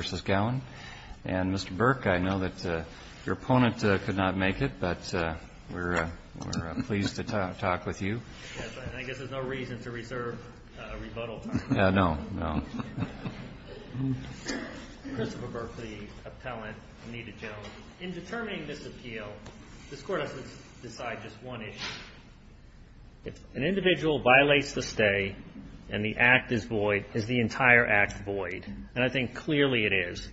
v. Gowen, and Mr. Burke, I know that your opponent could not make it, but we're pleased to talk with you. Yes, I guess there's no reason to reserve a rebuttal time. No, no. Christopher Berkley, appellant, Anita Jones. This Court has to decide just one issue. If an individual violates the stay and the act is void, is the entire act void? And I think clearly it is.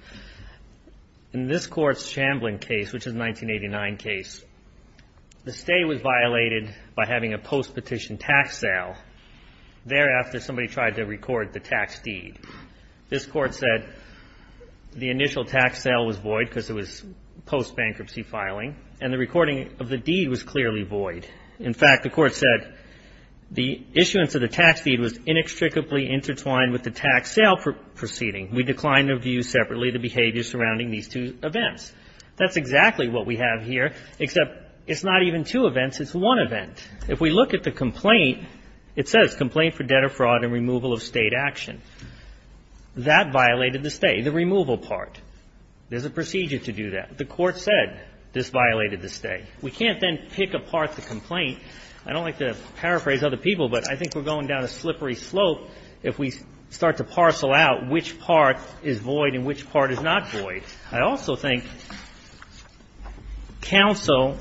In this Court's Chamblin case, which is a 1989 case, the stay was violated by having a post-petition tax sale. Thereafter, somebody tried to record the tax deed. This Court said the initial tax sale was void because it was post-bankruptcy filing, and the recording of the deed was clearly void. In fact, the Court said the issuance of the tax deed was inextricably intertwined with the tax sale proceeding. We decline to review separately the behavior surrounding these two events. That's exactly what we have here, except it's not even two events, it's one event. If we look at the complaint, it says complaint for debt or fraud and removal of state action. That violated the stay, the removal part. There's a procedure to do that. The Court said this violated the stay. We can't then pick apart the complaint. I don't like to paraphrase other people, but I think we're going down a slippery slope if we start to parcel out which part is void and which part is not void. I also think counsel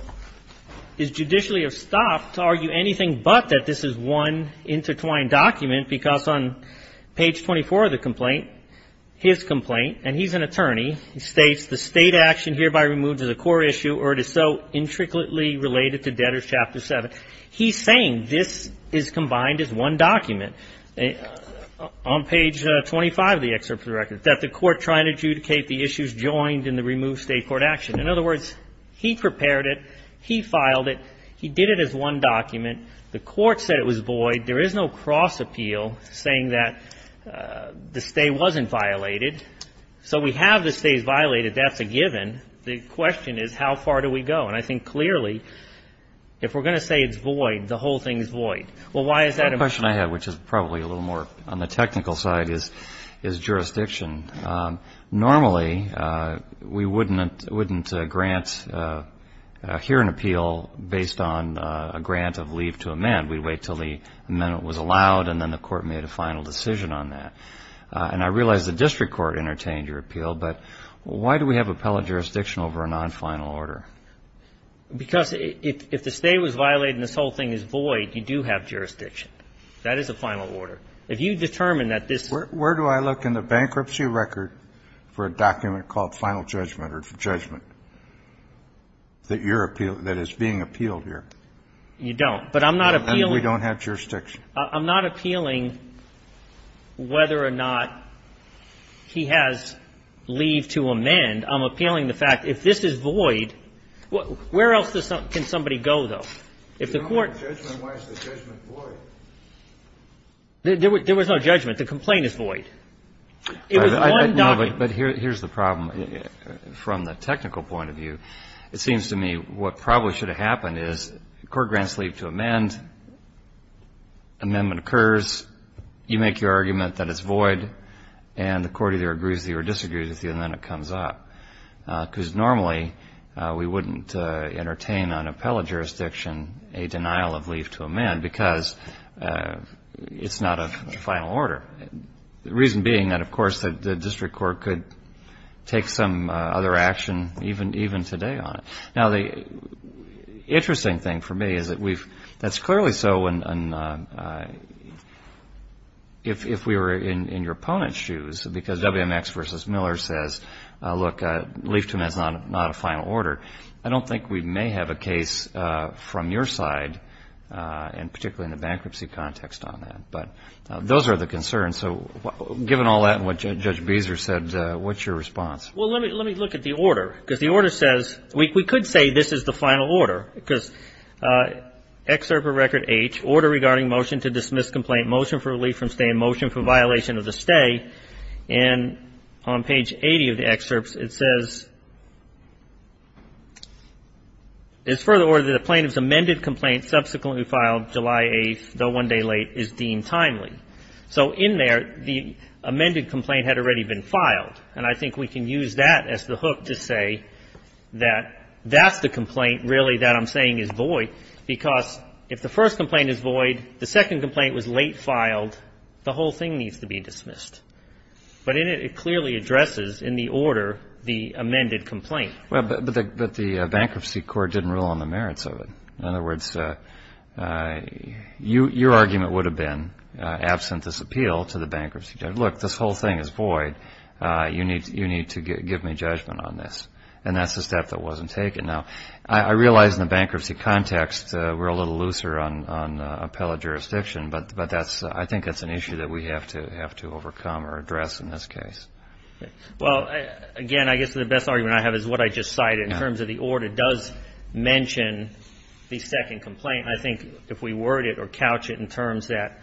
is judicially estopped to argue anything but that this is one intertwined document, because on page 24 of the complaint, his complaint, and he's an attorney, states the state action hereby removed is a core issue or it is so intricately related to debtors chapter 7. He's saying this is combined as one document. On page 25 of the excerpt of the record, that the Court tried to adjudicate the issues joined in the removed state court action. In other words, he prepared it. He filed it. He did it as one document. The Court said it was void. There is no cross appeal saying that the stay wasn't violated. So we have the stays violated. That's a given. The question is how far do we go? The question I have, which is probably a little more on the technical side, is jurisdiction. Normally, we wouldn't grant here an appeal based on a grant of leave to amend. We'd wait until the amendment was allowed, and then the Court made a final decision on that. And I realize the district court entertained your appeal, but why do we have appellate jurisdiction over a non-final order? Because if the stay was violated and this whole thing is void, you do have jurisdiction. That is a final order. If you determine that this ---- Where do I look in the bankruptcy record for a document called final judgment or judgment that is being appealed here? You don't. But I'm not appealing ---- And we don't have jurisdiction. I'm not appealing whether or not he has leave to amend. I'm appealing the fact if this is void, where else can somebody go, though? If the Court ---- If there's no judgment, why is the judgment void? There was no judgment. The complaint is void. It was one document. No, but here's the problem. From the technical point of view, it seems to me what probably should have happened is the Court grants leave to amend. Amendment occurs. You make your argument that it's void, and the Court either agrees with you or disagrees with you, and then it comes up. Because normally we wouldn't entertain on appellate jurisdiction a denial of leave to amend because it's not a final order. The reason being that, of course, the district court could take some other action even today on it. Now, the interesting thing for me is that we've ---- that's clearly so if we were in your opponent's shoes, because WMX v. Miller says, look, leave to amend is not a final order. I don't think we may have a case from your side, and particularly in the bankruptcy context on that. But those are the concerns. So given all that and what Judge Beezer said, what's your response? Well, let me look at the order, because the order says we could say this is the final order, because Excerpt of Record H, Order Regarding Motion to Dismiss Complaint, Motion for Relief from Stay in Motion for Violation of the Stay. And on page 80 of the excerpts, it says, It is further ordered that the plaintiff's amended complaint subsequently filed July 8, though one day late, is deemed timely. So in there, the amended complaint had already been filed. And I think we can use that as the hook to say that that's the complaint really that I'm saying is void, because if the first complaint is void, the second complaint was late filed, the whole thing needs to be dismissed. But in it, it clearly addresses in the order the amended complaint. But the bankruptcy court didn't rule on the merits of it. In other words, your argument would have been, absent this appeal to the bankruptcy judge, look, this whole thing is void, you need to give me judgment on this. And that's the step that wasn't taken. Now, I realize in the bankruptcy context we're a little looser on appellate jurisdiction, but I think that's an issue that we have to overcome or address in this case. Well, again, I guess the best argument I have is what I just cited. In terms of the order, it does mention the second complaint. I think if we word it or couch it in terms that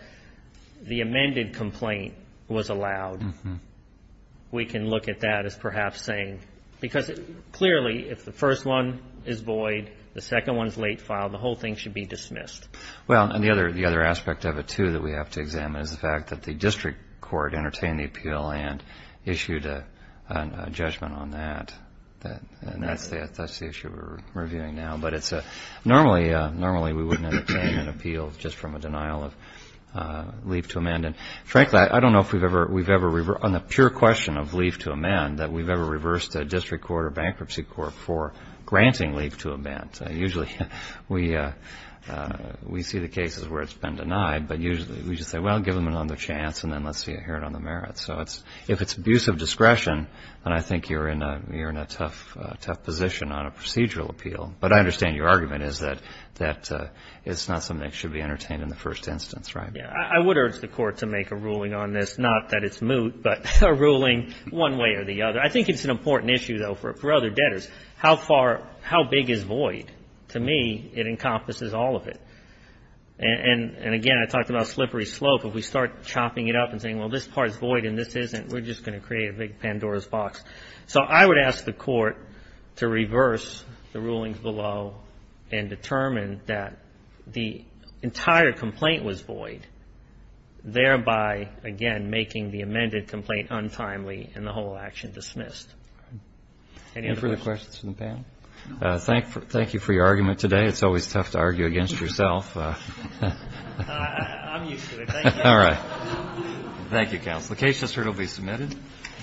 the amended complaint was allowed, we can look at that as perhaps saying, because clearly if the first one is void, the second one is late filed, the whole thing should be dismissed. Well, and the other aspect of it, too, that we have to examine is the fact that the district court entertained the appeal and issued a judgment on that. And that's the issue we're reviewing now. But normally we wouldn't entertain an appeal just from a denial of leave to amend. And frankly, I don't know if we've ever, on the pure question of leave to amend, that we've ever reversed a district court or bankruptcy court for granting leave to amend. Usually we see the cases where it's been denied, but usually we just say, well, give them another chance, and then let's hear it on the merits. So if it's abuse of discretion, then I think you're in a tough position on a procedural appeal. But I understand your argument is that it's not something that should be entertained in the first instance, right? Yeah. I would urge the court to make a ruling on this, not that it's moot, but a ruling one way or the other. I think it's an important issue, though, for other debtors. How far, how big is void? To me, it encompasses all of it. And again, I talked about slippery slope. If we start chopping it up and saying, well, this part's void and this isn't, we're just going to create a big Pandora's box. So I would ask the court to reverse the rulings below and determine that the entire complaint was void, thereby, again, making the amended complaint untimely and the whole action dismissed. Any other questions? Any further questions from the panel? Thank you for your argument today. It's always tough to argue against yourself. I'm used to it. Thank you. All right. Thank you, counsel. The case has heard will be submitted.